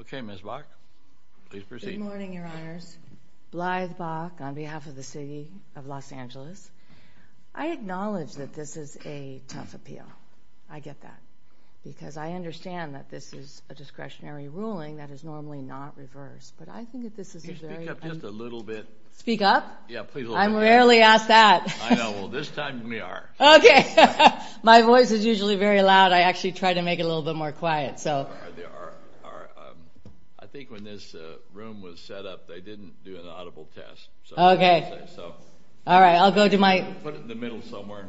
Okay, Ms. Bach, please proceed. Good morning, Your Honors. Blythe Bach on behalf of the City of Los Angeles. I acknowledge that this is a tough appeal. I get that. Because I understand that this is a discretionary ruling that is normally not reversed. But I think that this is a very... Can you speak up just a little bit? Speak up? Yeah, please a little bit. I'm rarely asked that. I know. Well, this time we are. Okay. My voice is usually very loud. I actually try to make it a little bit more quiet. I think when this room was set up, they didn't do an audible test. Okay. All right. I'll go to my... Put it in the middle somewhere.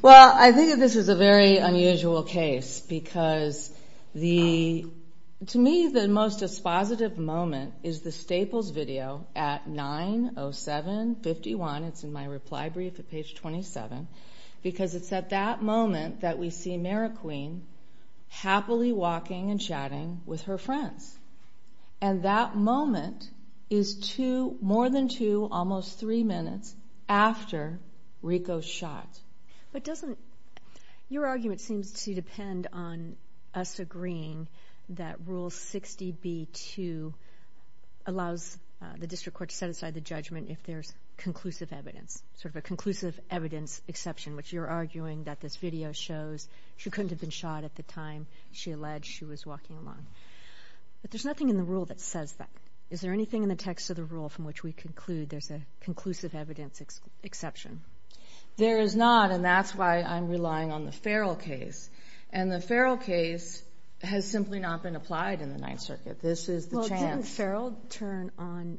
Well, I think that this is a very unusual case. Because to me, the most dispositive moment is the Staples video at 907-51. It's in my reply brief at page 27. Because it's at that moment that we see Mary Queen happily walking and chatting with her friends. And that moment is more than two, almost three minutes after Rico's shot. But doesn't... Your argument seems to depend on us agreeing that Rule 60B-2 allows the district court to set aside the judgment if there's conclusive evidence. Sort of a conclusive evidence exception, which you're arguing that this video shows. She couldn't have been shot at the time she alleged she was walking along. But there's nothing in the rule that says that. Is there anything in the text of the rule from which we conclude there's a conclusive evidence exception? There is not, and that's why I'm relying on the Farrell case. And the Farrell case has simply not been applied in the Ninth Circuit. This is the chance. The Farrell turn on...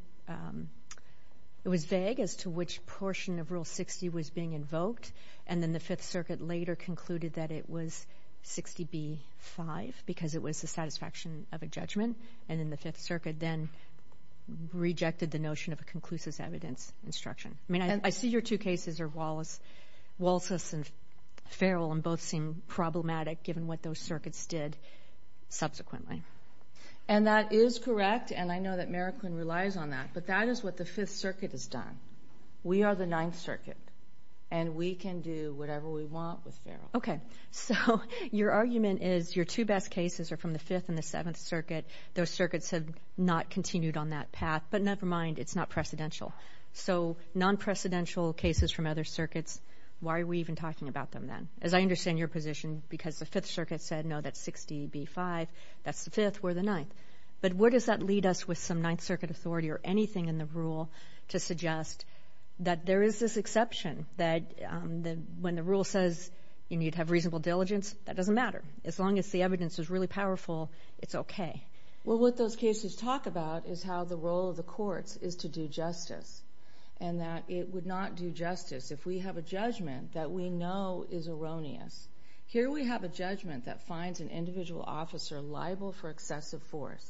It was vague as to which portion of Rule 60 was being invoked. And then the Fifth Circuit later concluded that it was 60B-5 because it was the satisfaction of a judgment. And then the Fifth Circuit then rejected the notion of a conclusive evidence instruction. I mean, I see your two cases are Walsh's and Farrell, and both seem problematic given what those circuits did subsequently. And that is correct, and I know that Marroquin relies on that. But that is what the Fifth Circuit has done. We are the Ninth Circuit, and we can do whatever we want with Farrell. Okay. So your argument is your two best cases are from the Fifth and the Seventh Circuit. Those circuits have not continued on that path. But never mind. It's not precedential. So non-precedential cases from other circuits, why are we even talking about them then? As I understand your position, because the Fifth Circuit said, no, that's 60B-5. That's the Fifth. We're the Ninth. But where does that lead us with some Ninth Circuit authority or anything in the rule to suggest that there is this exception that when the rule says you need to have reasonable diligence, that doesn't matter. As long as the evidence is really powerful, it's okay. Well, what those cases talk about is how the role of the courts is to do justice and that it would not do justice. If we have a judgment that we know is erroneous, here we have a judgment that finds an individual officer liable for excessive force,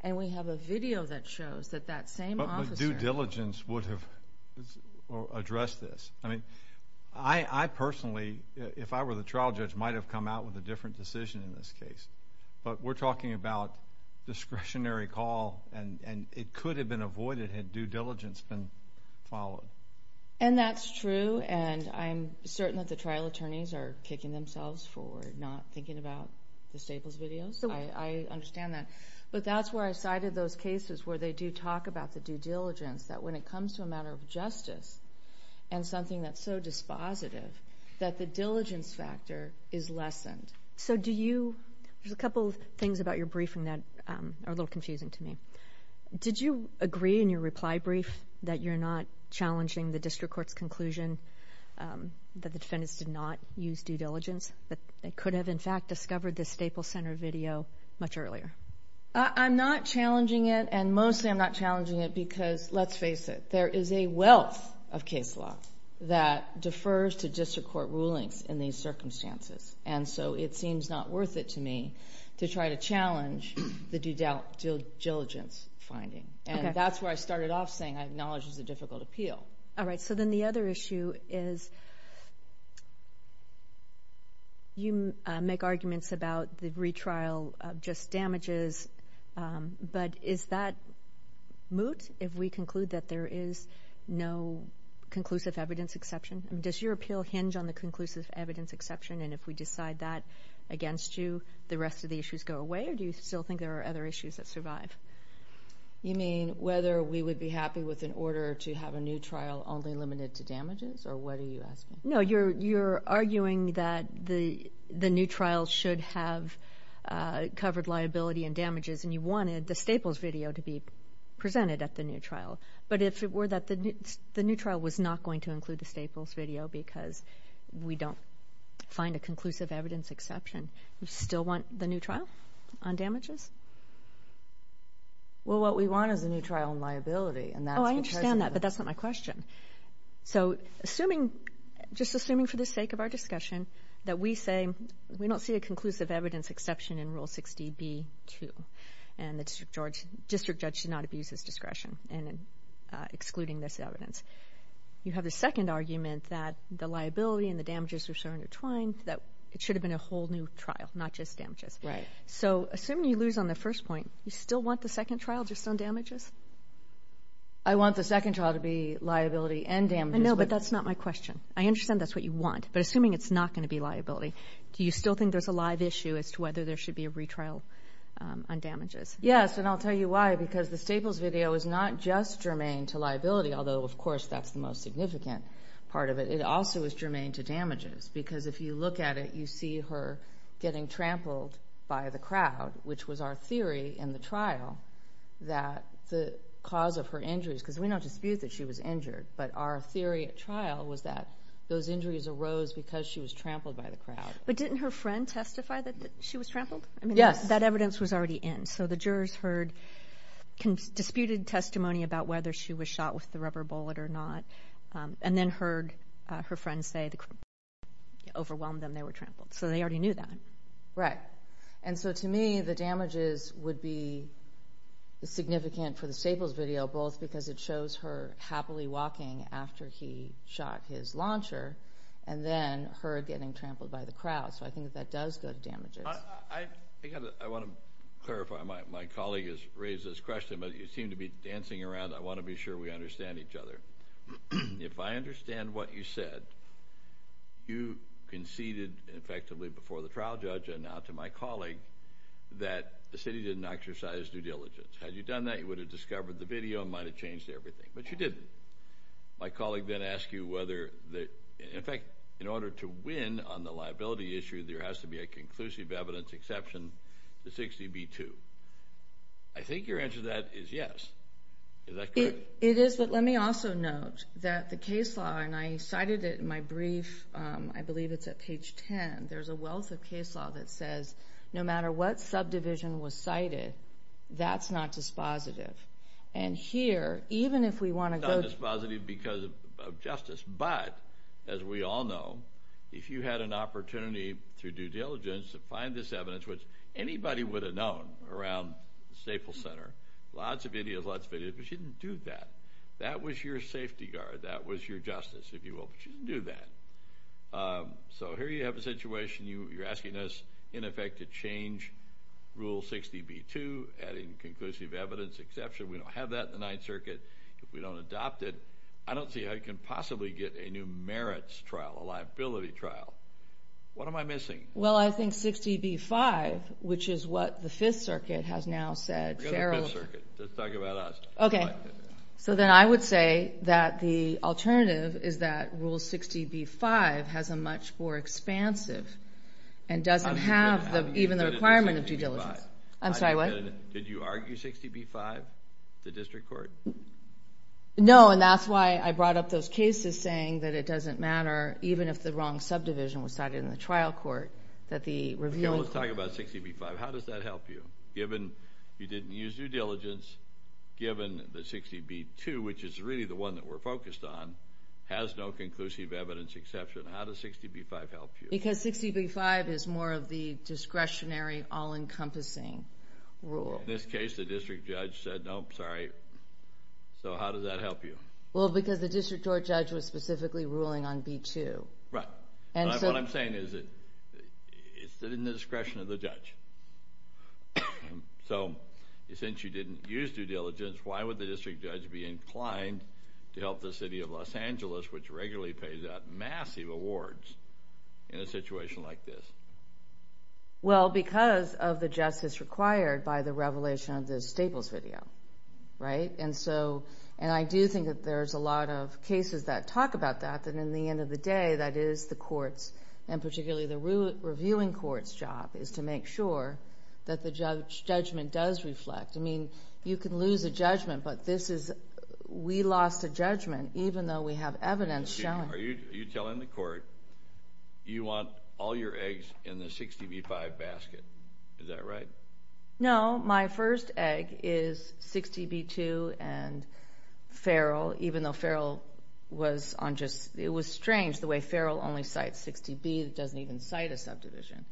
and we have a video that shows that that same officer. But due diligence would have addressed this. I mean, I personally, if I were the trial judge, might have come out with a different decision in this case. But we're talking about discretionary call, and it could have been avoided had due diligence been followed. And that's true, and I'm certain that the trial attorneys are kicking themselves for not thinking about the Staples videos. I understand that. But that's where I cited those cases where they do talk about the due diligence, that when it comes to a matter of justice and something that's so dispositive, that the diligence factor is lessened. So do you, there's a couple of things about your briefing that are a little confusing to me. Did you agree in your reply brief that you're not challenging the district court's conclusion that the defendants did not use due diligence, that they could have, in fact, discovered the Staples Center video much earlier? I'm not challenging it, and mostly I'm not challenging it because, let's face it, there is a wealth of case law that defers to district court rulings in these circumstances. And so it seems not worth it to me to try to challenge the due diligence finding. And that's where I started off saying I acknowledge it's a difficult appeal. All right. So then the other issue is you make arguments about the retrial just damages, but is that moot if we conclude that there is no conclusive evidence exception? Does your appeal hinge on the conclusive evidence exception, and if we decide that against you, the rest of the issues go away, or do you still think there are other issues that survive? You mean whether we would be happy with an order to have a new trial only limited to damages, or what are you asking? No, you're arguing that the new trial should have covered liability and damages, and you wanted the Staples video to be presented at the new trial. But if it were that the new trial was not going to include the Staples video because we don't find a conclusive evidence exception, you still want the new trial on damages? Well, what we want is a new trial on liability. Oh, I understand that, but that's not my question. So just assuming for the sake of our discussion that we say we don't see a conclusive evidence exception in Rule 60b-2 and the district judge should not abuse his discretion in excluding this evidence, you have a second argument that the liability and the damages are so intertwined that it should have been a whole new trial, not just damages. Right. So assuming you lose on the first point, you still want the second trial just on damages? I want the second trial to be liability and damages. I know, but that's not my question. I understand that's what you want, but assuming it's not going to be liability, do you still think there's a live issue as to whether there should be a retrial on damages? Yes, and I'll tell you why, because the Staples video is not just germane to liability, although, of course, that's the most significant part of it. It also is germane to damages because if you look at it, you see her getting trampled by the crowd, which was our theory in the trial that the cause of her injuries, because we don't dispute that she was injured, but our theory at trial was that those injuries arose because she was trampled by the crowd. But didn't her friend testify that she was trampled? Yes. That evidence was already in, so the jurors heard disputed testimony about whether she was shot with the rubber bullet or not and then heard her friend say the bullet overwhelmed them, they were trampled. So they already knew that. Right, and so to me, the damages would be significant for the Staples video, both because it shows her happily walking after he shot his launcher and then her getting trampled by the crowd. So I think that that does go to damages. I want to clarify. My colleague has raised this question, but you seem to be dancing around. I want to be sure we understand each other. If I understand what you said, you conceded effectively before the trial judge and now to my colleague that the city didn't exercise due diligence. Had you done that, you would have discovered the video and might have changed everything. But you didn't. My colleague then asked you whether, in fact, in order to win on the liability issue, there has to be a conclusive evidence exception to 60B2. I think your answer to that is yes. Is that correct? It is, but let me also note that the case law, and I cited it in my brief, I believe it's at page 10, there's a wealth of case law that says no matter what subdivision was cited, that's not dispositive. And here, even if we want to go to... It's not dispositive because of justice. But, as we all know, if you had an opportunity through due diligence to find this evidence, which anybody would have known around the Staples Center, lots of videos, lots of videos, but you didn't do that. That was your safety guard. That was your justice, if you will, but you didn't do that. So here you have a situation. You're asking us, in effect, to change Rule 60B2, adding conclusive evidence exception. We don't have that in the Ninth Circuit. If we don't adopt it, I don't see how you can possibly get a new merits trial, a liability trial. What am I missing? Well, I think 60B5, which is what the Fifth Circuit has now said. Forget the Fifth Circuit. Let's talk about us. Okay. So then I would say that the alternative is that Rule 60B5 has a much more expansive and doesn't have even the requirement of due diligence. I'm sorry, what? Did you argue 60B5 at the district court? No, and that's why I brought up those cases saying that it doesn't matter, even if the wrong subdivision was cited in the trial court, that the revealing... Okay, well, let's talk about 60B5. How does that help you, given you didn't use due diligence, given that 60B2, which is really the one that we're focused on, has no conclusive evidence exception? How does 60B5 help you? Because 60B5 is more of the discretionary, all-encompassing rule. In this case, the district judge said, Nope, sorry. So how does that help you? Well, because the district court judge was specifically ruling on B2. Right. What I'm saying is that it's in the discretion of the judge. So since you didn't use due diligence, why would the district judge be inclined to help the city of Los Angeles, which regularly pays out massive awards in a situation like this? Well, because of the justice required by the revelation of the Staples video. Right? And I do think that there's a lot of cases that talk about that, that in the end of the day, that is the court's, and particularly the reviewing court's job, is to make sure that the judgment does reflect. I mean, you can lose a judgment, but we lost a judgment even though we have evidence showing it. Are you telling the court you want all your eggs in the 60B5 basket? Is that right? No. My first egg is 60B2 and Farrell, even though Farrell was on just, it was strange the way Farrell only cites 60B, that doesn't even cite a subdivision.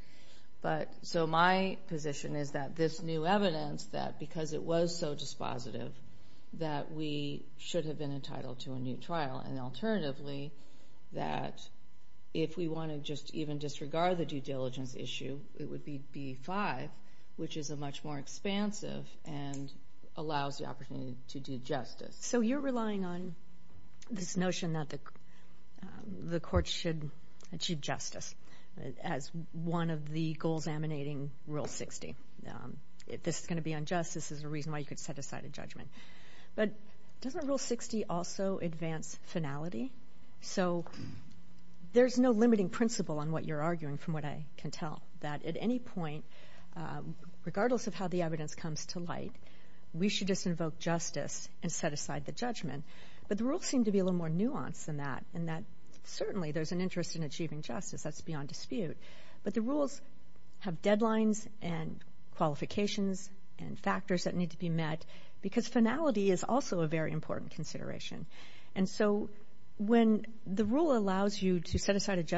So my position is that this new evidence, that because it was so dispositive, that we should have been entitled to a new trial, and alternatively that if we want to just even disregard the due diligence issue, it would be B5, which is a much more expansive and allows the opportunity to do justice. So you're relying on this notion that the court should achieve justice as one of the goals emanating Rule 60. If this is going to be unjust, this is a reason why you could set aside a judgment. But doesn't Rule 60 also advance finality? So there's no limiting principle on what you're arguing, from what I can tell, that at any point, regardless of how the evidence comes to light, we should just invoke justice and set aside the judgment. But the rules seem to be a little more nuanced than that, and that certainly there's an interest in achieving justice, that's beyond dispute. But the rules have deadlines and qualifications and factors that need to be met, because finality is also a very important consideration. And so when the rule allows you to set aside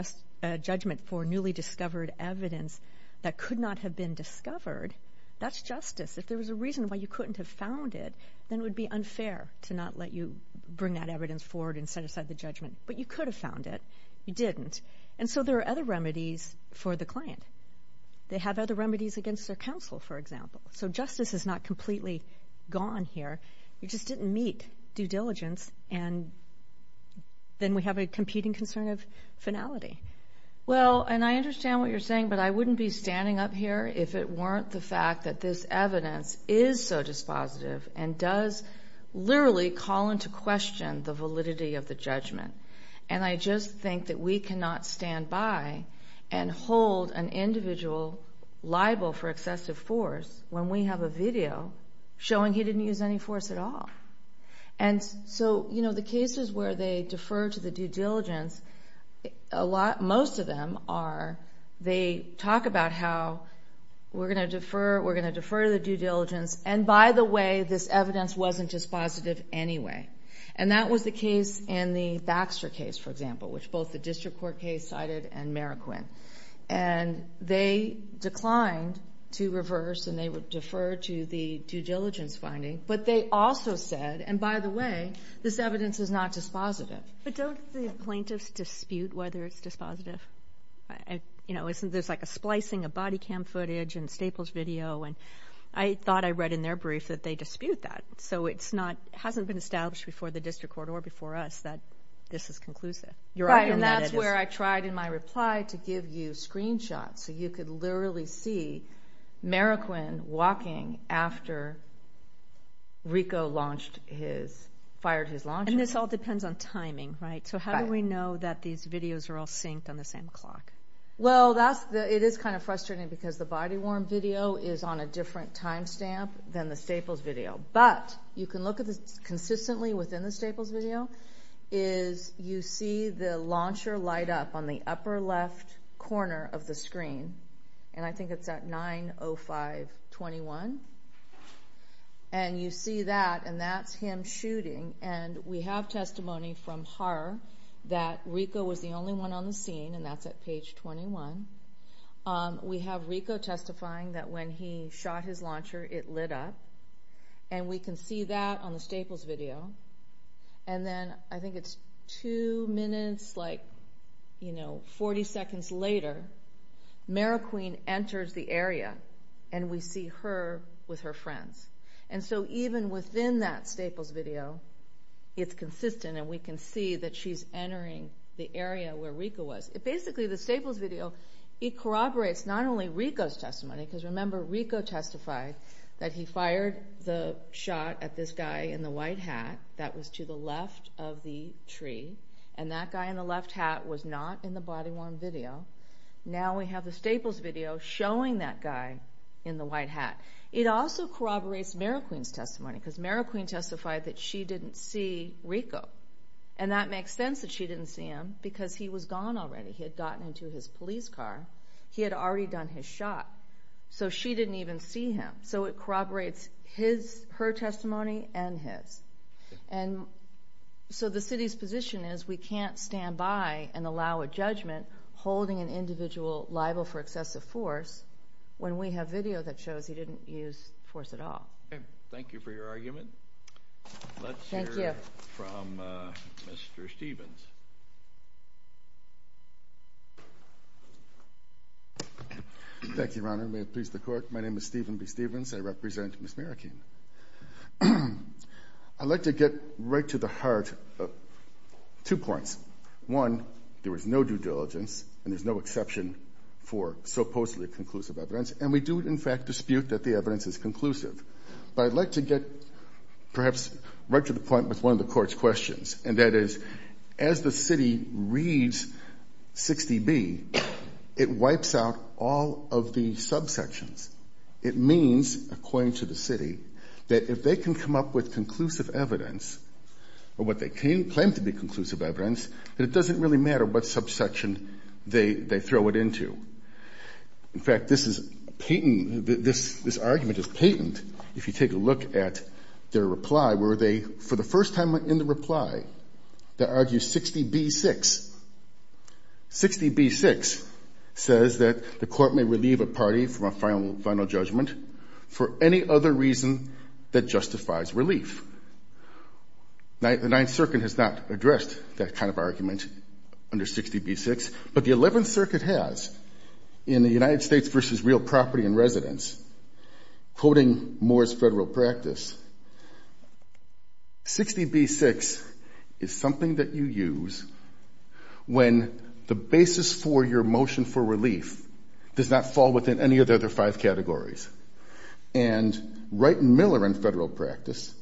a judgment for newly discovered evidence that could not have been discovered, that's justice. If there was a reason why you couldn't have found it, then it would be unfair to not let you bring that evidence forward and set aside the judgment. But you could have found it. You didn't. And so there are other remedies for the client. They have other remedies against their counsel, for example. So justice is not completely gone here. You just didn't meet due diligence, and then we have a competing concern of finality. Well, and I understand what you're saying, but I wouldn't be standing up here if it weren't the fact that this evidence is so dispositive and does literally call into question the validity of the judgment. And I just think that we cannot stand by and hold an individual liable for excessive force when we have a video showing he didn't use any force at all. And so, you know, the cases where they defer to the due diligence, most of them are they talk about how we're going to defer, we're going to defer the due diligence, and by the way, this evidence wasn't dispositive anyway. And that was the case in the Baxter case, for example, which both the district court case cited and Meriquin. And they declined to reverse, and they deferred to the due diligence finding. But they also said, and by the way, this evidence is not dispositive. But don't the plaintiffs dispute whether it's dispositive? You know, there's like a splicing of body cam footage and Staples video, and I thought I read in their brief that they dispute that. So it hasn't been established before the district court or before us that this is conclusive. Right, and that's where I tried in my reply to give you screenshots so you could literally see Meriquin walking after Rico fired his launcher. And this all depends on timing, right? So how do we know that these videos are all synced on the same clock? Well, it is kind of frustrating because the body-worn video is on a different time stamp than the Staples video. But you can look at this consistently within the Staples video is you see the launcher light up on the upper left corner of the screen, and I think it's at 9.05.21. And you see that, and that's him shooting. And we have testimony from her that Rico was the only one on the scene, and that's at page 21. We have Rico testifying that when he shot his launcher, it lit up. And we can see that on the Staples video. And then I think it's 2 minutes, like 40 seconds later, Meriquin enters the area, and we see her with her friends. And so even within that Staples video, it's consistent, and we can see that she's entering the area where Rico was. Basically, the Staples video, it corroborates not only Rico's testimony, because remember, Rico testified that he fired the shot at this guy in the white hat that was to the left of the tree, and that guy in the left hat was not in the body-worn video. Now we have the Staples video showing that guy in the white hat. It also corroborates Meriquin's testimony, because Meriquin testified that she didn't see Rico. And that makes sense that she didn't see him, because he was gone already. He had gotten into his police car. He had already done his shot. So she didn't even see him. So it corroborates her testimony and his. And so the city's position is we can't stand by and allow a judgment holding an individual liable for excessive force when we have video that shows he didn't use force at all. Thank you for your argument. Let's hear from Mr. Stevens. Thank you, Your Honor. May it please the Court. My name is Stephen B. Stevens. I represent Ms. Meriquin. I'd like to get right to the heart of two points. One, there was no due diligence, and there's no exception for supposedly conclusive evidence, and we do in fact dispute that the evidence is conclusive. But I'd like to get perhaps right to the point with one of the Court's questions, and that is, as the city reads 60B, it wipes out all of the subsections. It means, according to the city, that if they can come up with conclusive evidence, or what they claim to be conclusive evidence, that it doesn't really matter what subsection they throw it into. In fact, this argument is patent if you take a look at their reply, where they, for the first time in the reply, they argue 60B-6. 60B-6 says that the Court may relieve a party from a final judgment for any other reason that justifies relief. The Ninth Circuit has not addressed that kind of argument under 60B-6, but the Eleventh Circuit has, in the United States v. Real Property and Residence, quoting Moore's Federal Practice, 60B-6 is something that you use when the basis for your motion for relief does not fall within any of the other five categories. And Wright and Miller in Federal Practice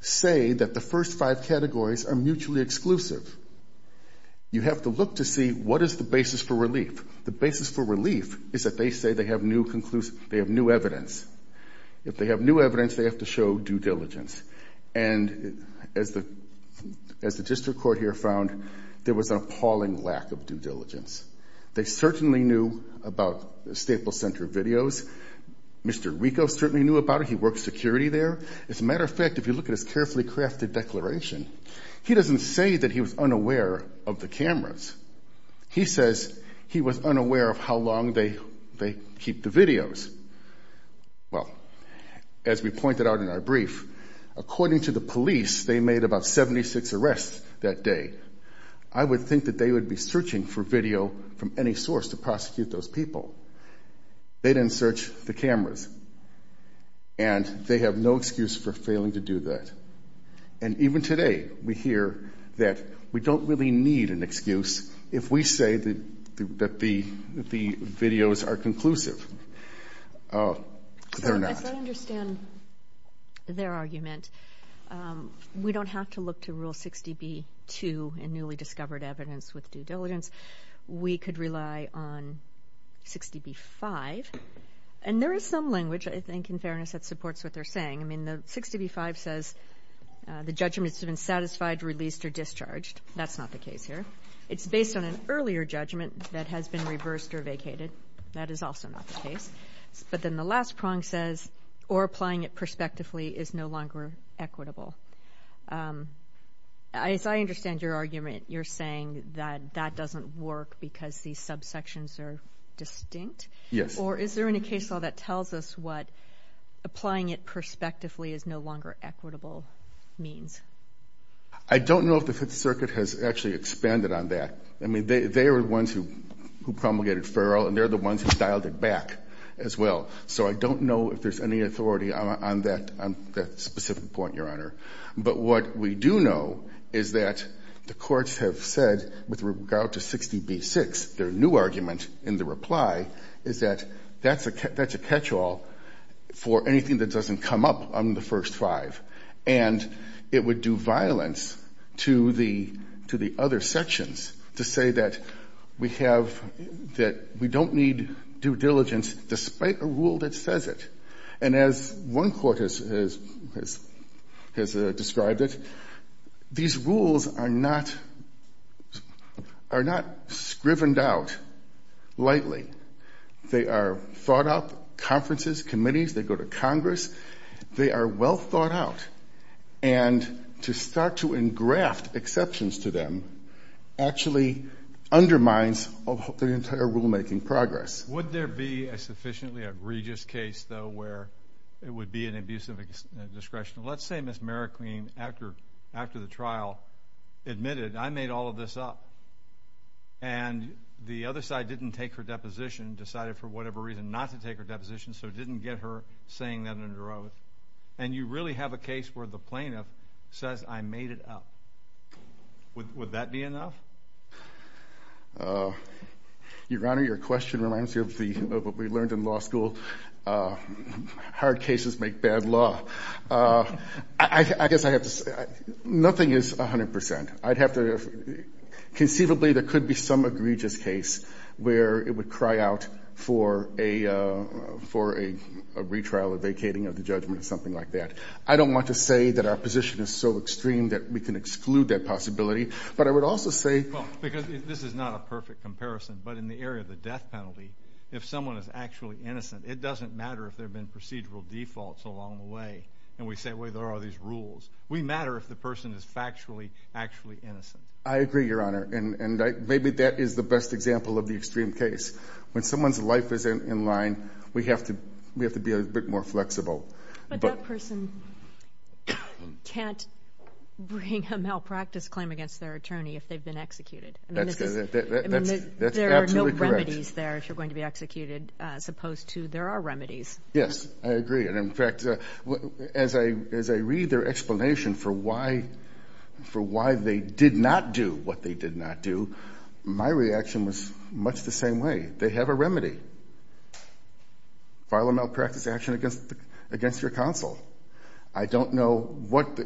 say that the first five categories are mutually exclusive. You have to look to see what is the basis for relief. The basis for relief is that they say they have new evidence. If they have new evidence, they have to show due diligence. And as the district court here found, there was an appalling lack of due diligence. They certainly knew about Staples Center videos. Mr. Rico certainly knew about it. He works security there. As a matter of fact, if you look at his carefully crafted declaration, he doesn't say that he was unaware of the cameras. He says he was unaware of how long they keep the videos. Well, as we pointed out in our brief, according to the police, they made about 76 arrests that day. I would think that they would be searching for video from any source to prosecute those people. They didn't search the cameras. And they have no excuse for failing to do that. And even today, we hear that we don't really need an excuse if we say that the videos are conclusive. They're not. As I understand their argument, we don't have to look to Rule 60b-2 in newly discovered evidence with due diligence. We could rely on 60b-5. And there is some language, I think, in fairness, that supports what they're saying. I mean, 60b-5 says the judgment has been satisfied, released, or discharged. That's not the case here. It's based on an earlier judgment that has been reversed or vacated. That is also not the case. But then the last prong says, or applying it prospectively is no longer equitable. As I understand your argument, you're saying that that doesn't work because these subsections are distinct? Yes. Or is there any case law that tells us what applying it prospectively is no longer equitable means? I don't know if the Fifth Circuit has actually expanded on that. I mean, they are the ones who promulgated Ferrell, and they're the ones who dialed it back as well. So I don't know if there's any authority on that specific point, Your Honor. But what we do know is that the courts have said, with regard to 60b-6, their new argument in the reply is that that's a catch-all for anything that doesn't come up on the first five. And it would do violence to the other sections to say that we have – And as one court has described it, these rules are not – are not scrivened out lightly. They are thought up. Conferences, committees, they go to Congress. They are well thought out. And to start to engraft exceptions to them actually undermines the entire rulemaking progress. Would there be a sufficiently egregious case, though, where it would be an abuse of discretion? Let's say Ms. Marroquin, after the trial, admitted, I made all of this up. And the other side didn't take her deposition, decided for whatever reason not to take her deposition, so didn't get her saying that under oath. And you really have a case where the plaintiff says, I made it up. Would that be enough? Your Honor, your question reminds me of what we learned in law school. Hard cases make bad law. I guess I have to – nothing is 100%. I'd have to – conceivably, there could be some egregious case where it would cry out for a retrial or vacating of the judgment or something like that. I don't want to say that our position is so extreme that we can exclude that possibility. But I would also say – Well, because this is not a perfect comparison. But in the area of the death penalty, if someone is actually innocent, it doesn't matter if there have been procedural defaults along the way. And we say, wait, there are these rules. We matter if the person is factually actually innocent. I agree, Your Honor. And maybe that is the best example of the extreme case. When someone's life is in line, we have to be a bit more flexible. But that person can't bring a malpractice claim against their attorney if they've been executed. That's absolutely correct. There are no remedies there if you're going to be executed as opposed to there are remedies. Yes, I agree. And, in fact, as I read their explanation for why they did not do what they did not do, my reaction was much the same way. They have a remedy. File a malpractice action against your counsel. I don't know what's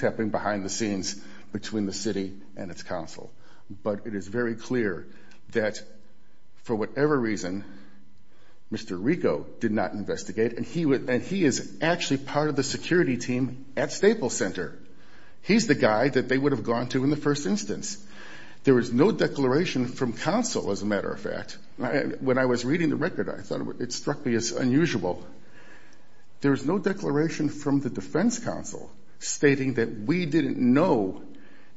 happening behind the scenes between the city and its counsel. But it is very clear that, for whatever reason, Mr. Rico did not investigate, and he is actually part of the security team at Staples Center. He's the guy that they would have gone to in the first instance. There is no declaration from counsel, as a matter of fact. When I was reading the record, I thought it struck me as unusual. There is no declaration from the defense counsel stating that we didn't know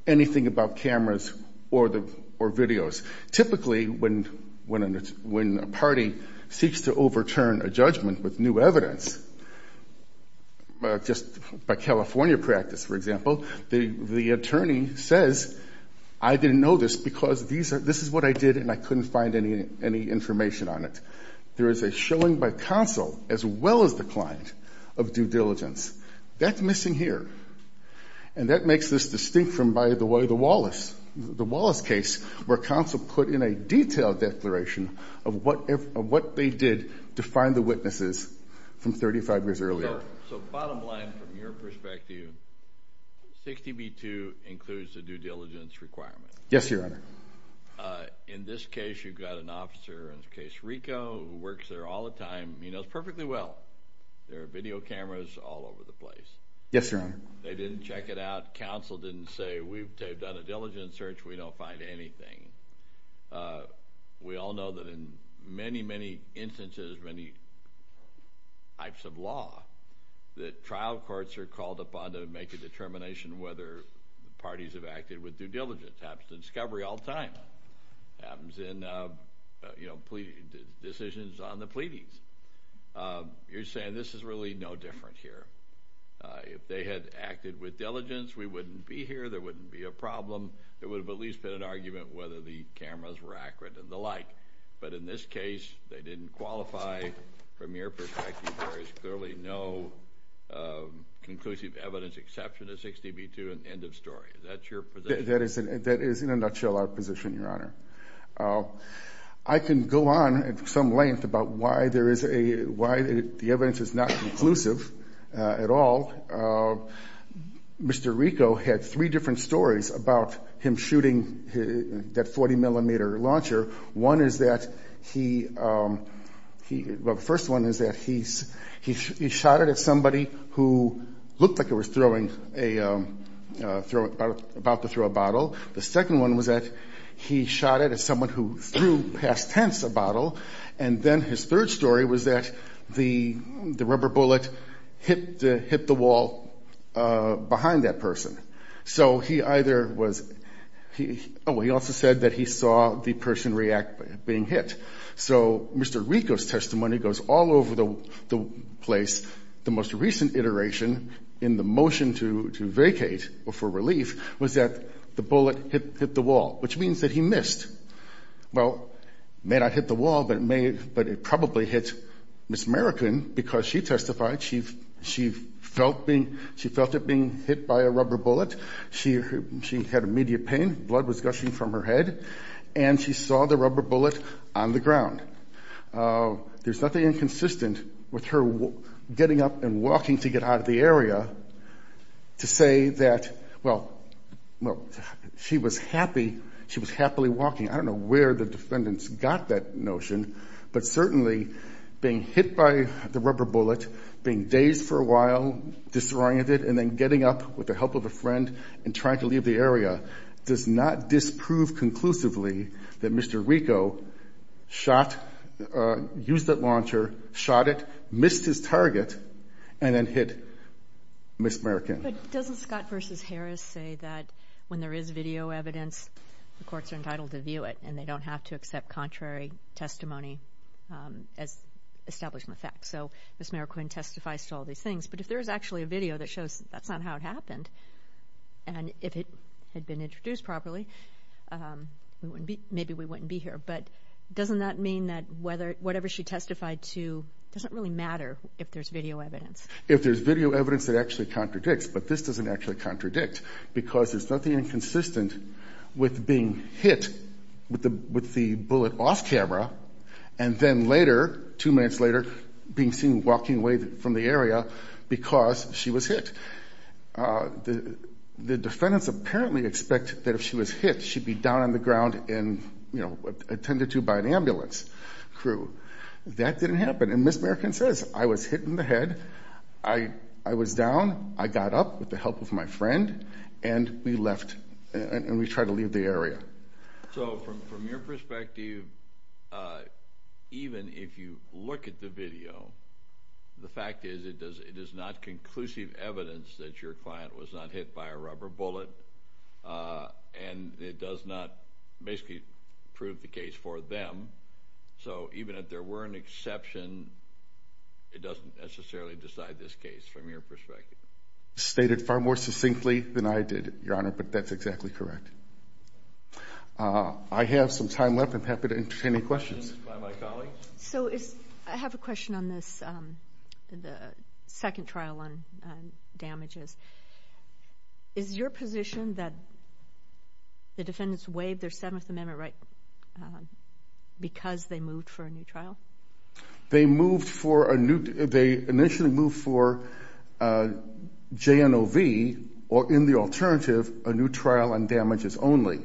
anything about cameras or videos. Typically, when a party seeks to overturn a judgment with new evidence, just by California practice, for example, the attorney says, I didn't know this because this is what I did, and I couldn't find any information on it. There is a showing by counsel, as well as the client, of due diligence. That's missing here. And that makes this distinct from, by the way, the Wallace case, where counsel put in a detailed declaration of what they did to find the witnesses from 35 years earlier. So bottom line, from your perspective, 60B2 includes a due diligence requirement. Yes, Your Honor. In this case, you've got an officer, in the case of Rico, who works there all the time. He knows perfectly well there are video cameras all over the place. Yes, Your Honor. They didn't check it out. Counsel didn't say, we've done a diligence search. We don't find anything. We all know that in many, many instances, many types of law, that trial courts are called upon to make a determination whether parties have acted with due diligence. It happens in discovery all the time. It happens in decisions on the pleadings. You're saying this is really no different here. If they had acted with diligence, we wouldn't be here. There wouldn't be a problem. There would have at least been an argument whether the cameras were accurate and the like. But in this case, they didn't qualify. From your perspective, there is clearly no conclusive evidence exception to 60B2, and end of story. Is that your position? That is, in a nutshell, our position, Your Honor. I can go on at some length about why the evidence is not conclusive at all. Mr. Rico had three different stories about him shooting that 40-millimeter launcher. One is that he shot it at somebody who looked like he was about to throw a bottle. The second one was that he shot it at someone who threw past tense a bottle. And then his third story was that the rubber bullet hit the wall behind that person. So he either was he also said that he saw the person react being hit. So Mr. Rico's testimony goes all over the place. The most recent iteration in the motion to vacate for relief was that the bullet hit the wall, which means that he missed. Well, it may not hit the wall, but it probably hit Ms. Merican because she testified. She felt it being hit by a rubber bullet. She had immediate pain. Blood was gushing from her head. And she saw the rubber bullet on the ground. There's nothing inconsistent with her getting up and walking to get out of the area to say that, well, she was happy. She was happily walking. I don't know where the defendants got that notion. But certainly being hit by the rubber bullet, being dazed for a while, disoriented, and then getting up with the help of a friend and trying to leave the area does not disprove conclusively that Mr. Rico shot, used that launcher, shot it, missed his target, and then hit Ms. Merican. But doesn't Scott v. Harris say that when there is video evidence, the courts are entitled to view it and they don't have to accept contrary testimony as establishment facts? So Ms. Merican testifies to all these things. But if there is actually a video that shows that's not how it happened, and if it had been introduced properly, maybe we wouldn't be here. But doesn't that mean that whatever she testified to doesn't really matter if there's video evidence? If there's video evidence that actually contradicts, but this doesn't actually contradict because there's nothing inconsistent with being hit with the bullet off camera and then later, two minutes later, being seen walking away from the area because she was hit. The defendants apparently expect that if she was hit, she'd be down on the ground and, you know, attended to by an ambulance crew. That didn't happen. And Ms. Merican says, I was hit in the head, I was down, I got up with the help of my friend, and we left and we tried to leave the area. So from your perspective, even if you look at the video, the fact is it is not conclusive evidence that your client was not hit by a rubber bullet and it does not basically prove the case for them. So even if there were an exception, it doesn't necessarily decide this case from your perspective. It's stated far more succinctly than I did, Your Honor, but that's exactly correct. I have some time left. I'm happy to entertain any questions. I have a question on this second trial on damages. Is your position that the defendants waived their Seventh Amendment right because they moved for a new trial? They initially moved for JNOV or, in the alternative, a new trial on damages only.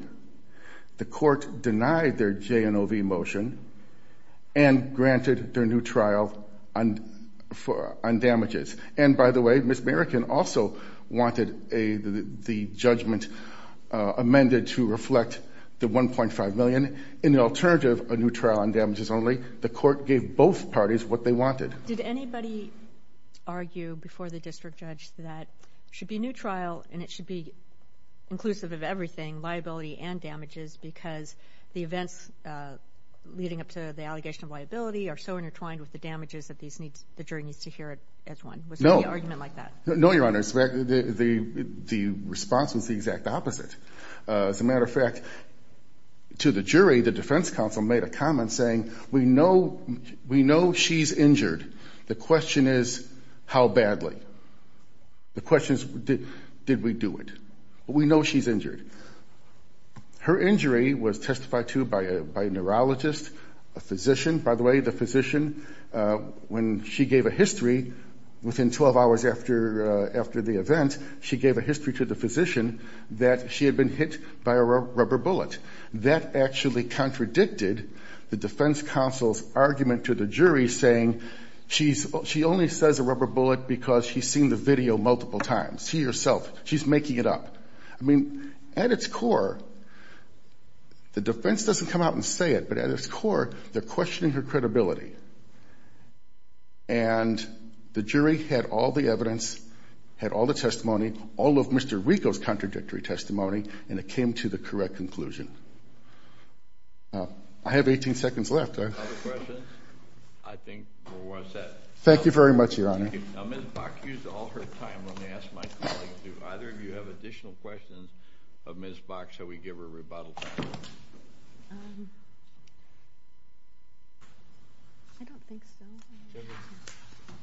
The court denied their JNOV motion and granted their new trial on damages. And, by the way, Ms. Merican also wanted the judgment amended to reflect the $1.5 million. In the alternative, a new trial on damages only. The court gave both parties what they wanted. Did anybody argue before the district judge that it should be a new trial and it should be inclusive of everything, liability and damages, that the jury needs to hear it as one? Was there any argument like that? No, Your Honor. The response was the exact opposite. As a matter of fact, to the jury, the defense counsel made a comment saying, we know she's injured. The question is, how badly? The question is, did we do it? We know she's injured. Her injury was testified to by a neurologist, a physician. By the way, the physician, when she gave a history, within 12 hours after the event, she gave a history to the physician that she had been hit by a rubber bullet. That actually contradicted the defense counsel's argument to the jury, saying she only says a rubber bullet because she's seen the video multiple times. See yourself. She's making it up. I mean, at its core, the defense doesn't come out and say it, but at its core, they're questioning her credibility. And the jury had all the evidence, had all the testimony, all of Mr. Rico's contradictory testimony, and it came to the correct conclusion. I have 18 seconds left. Other questions? I think we're all set. Thank you very much, Your Honor. Ms. Bach used all her time. Let me ask my colleague, too. If either of you have additional questions of Ms. Bach, shall we give her a rebuttal? I don't think so.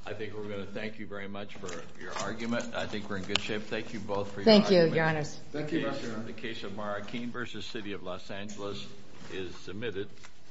I think we're going to thank you very much for your argument. I think we're in good shape. Thank you both for your argument. Thank you, Your Honors. Thank you, Mr. Arnn. The case of Marrakeen v. City of Los Angeles is submitted.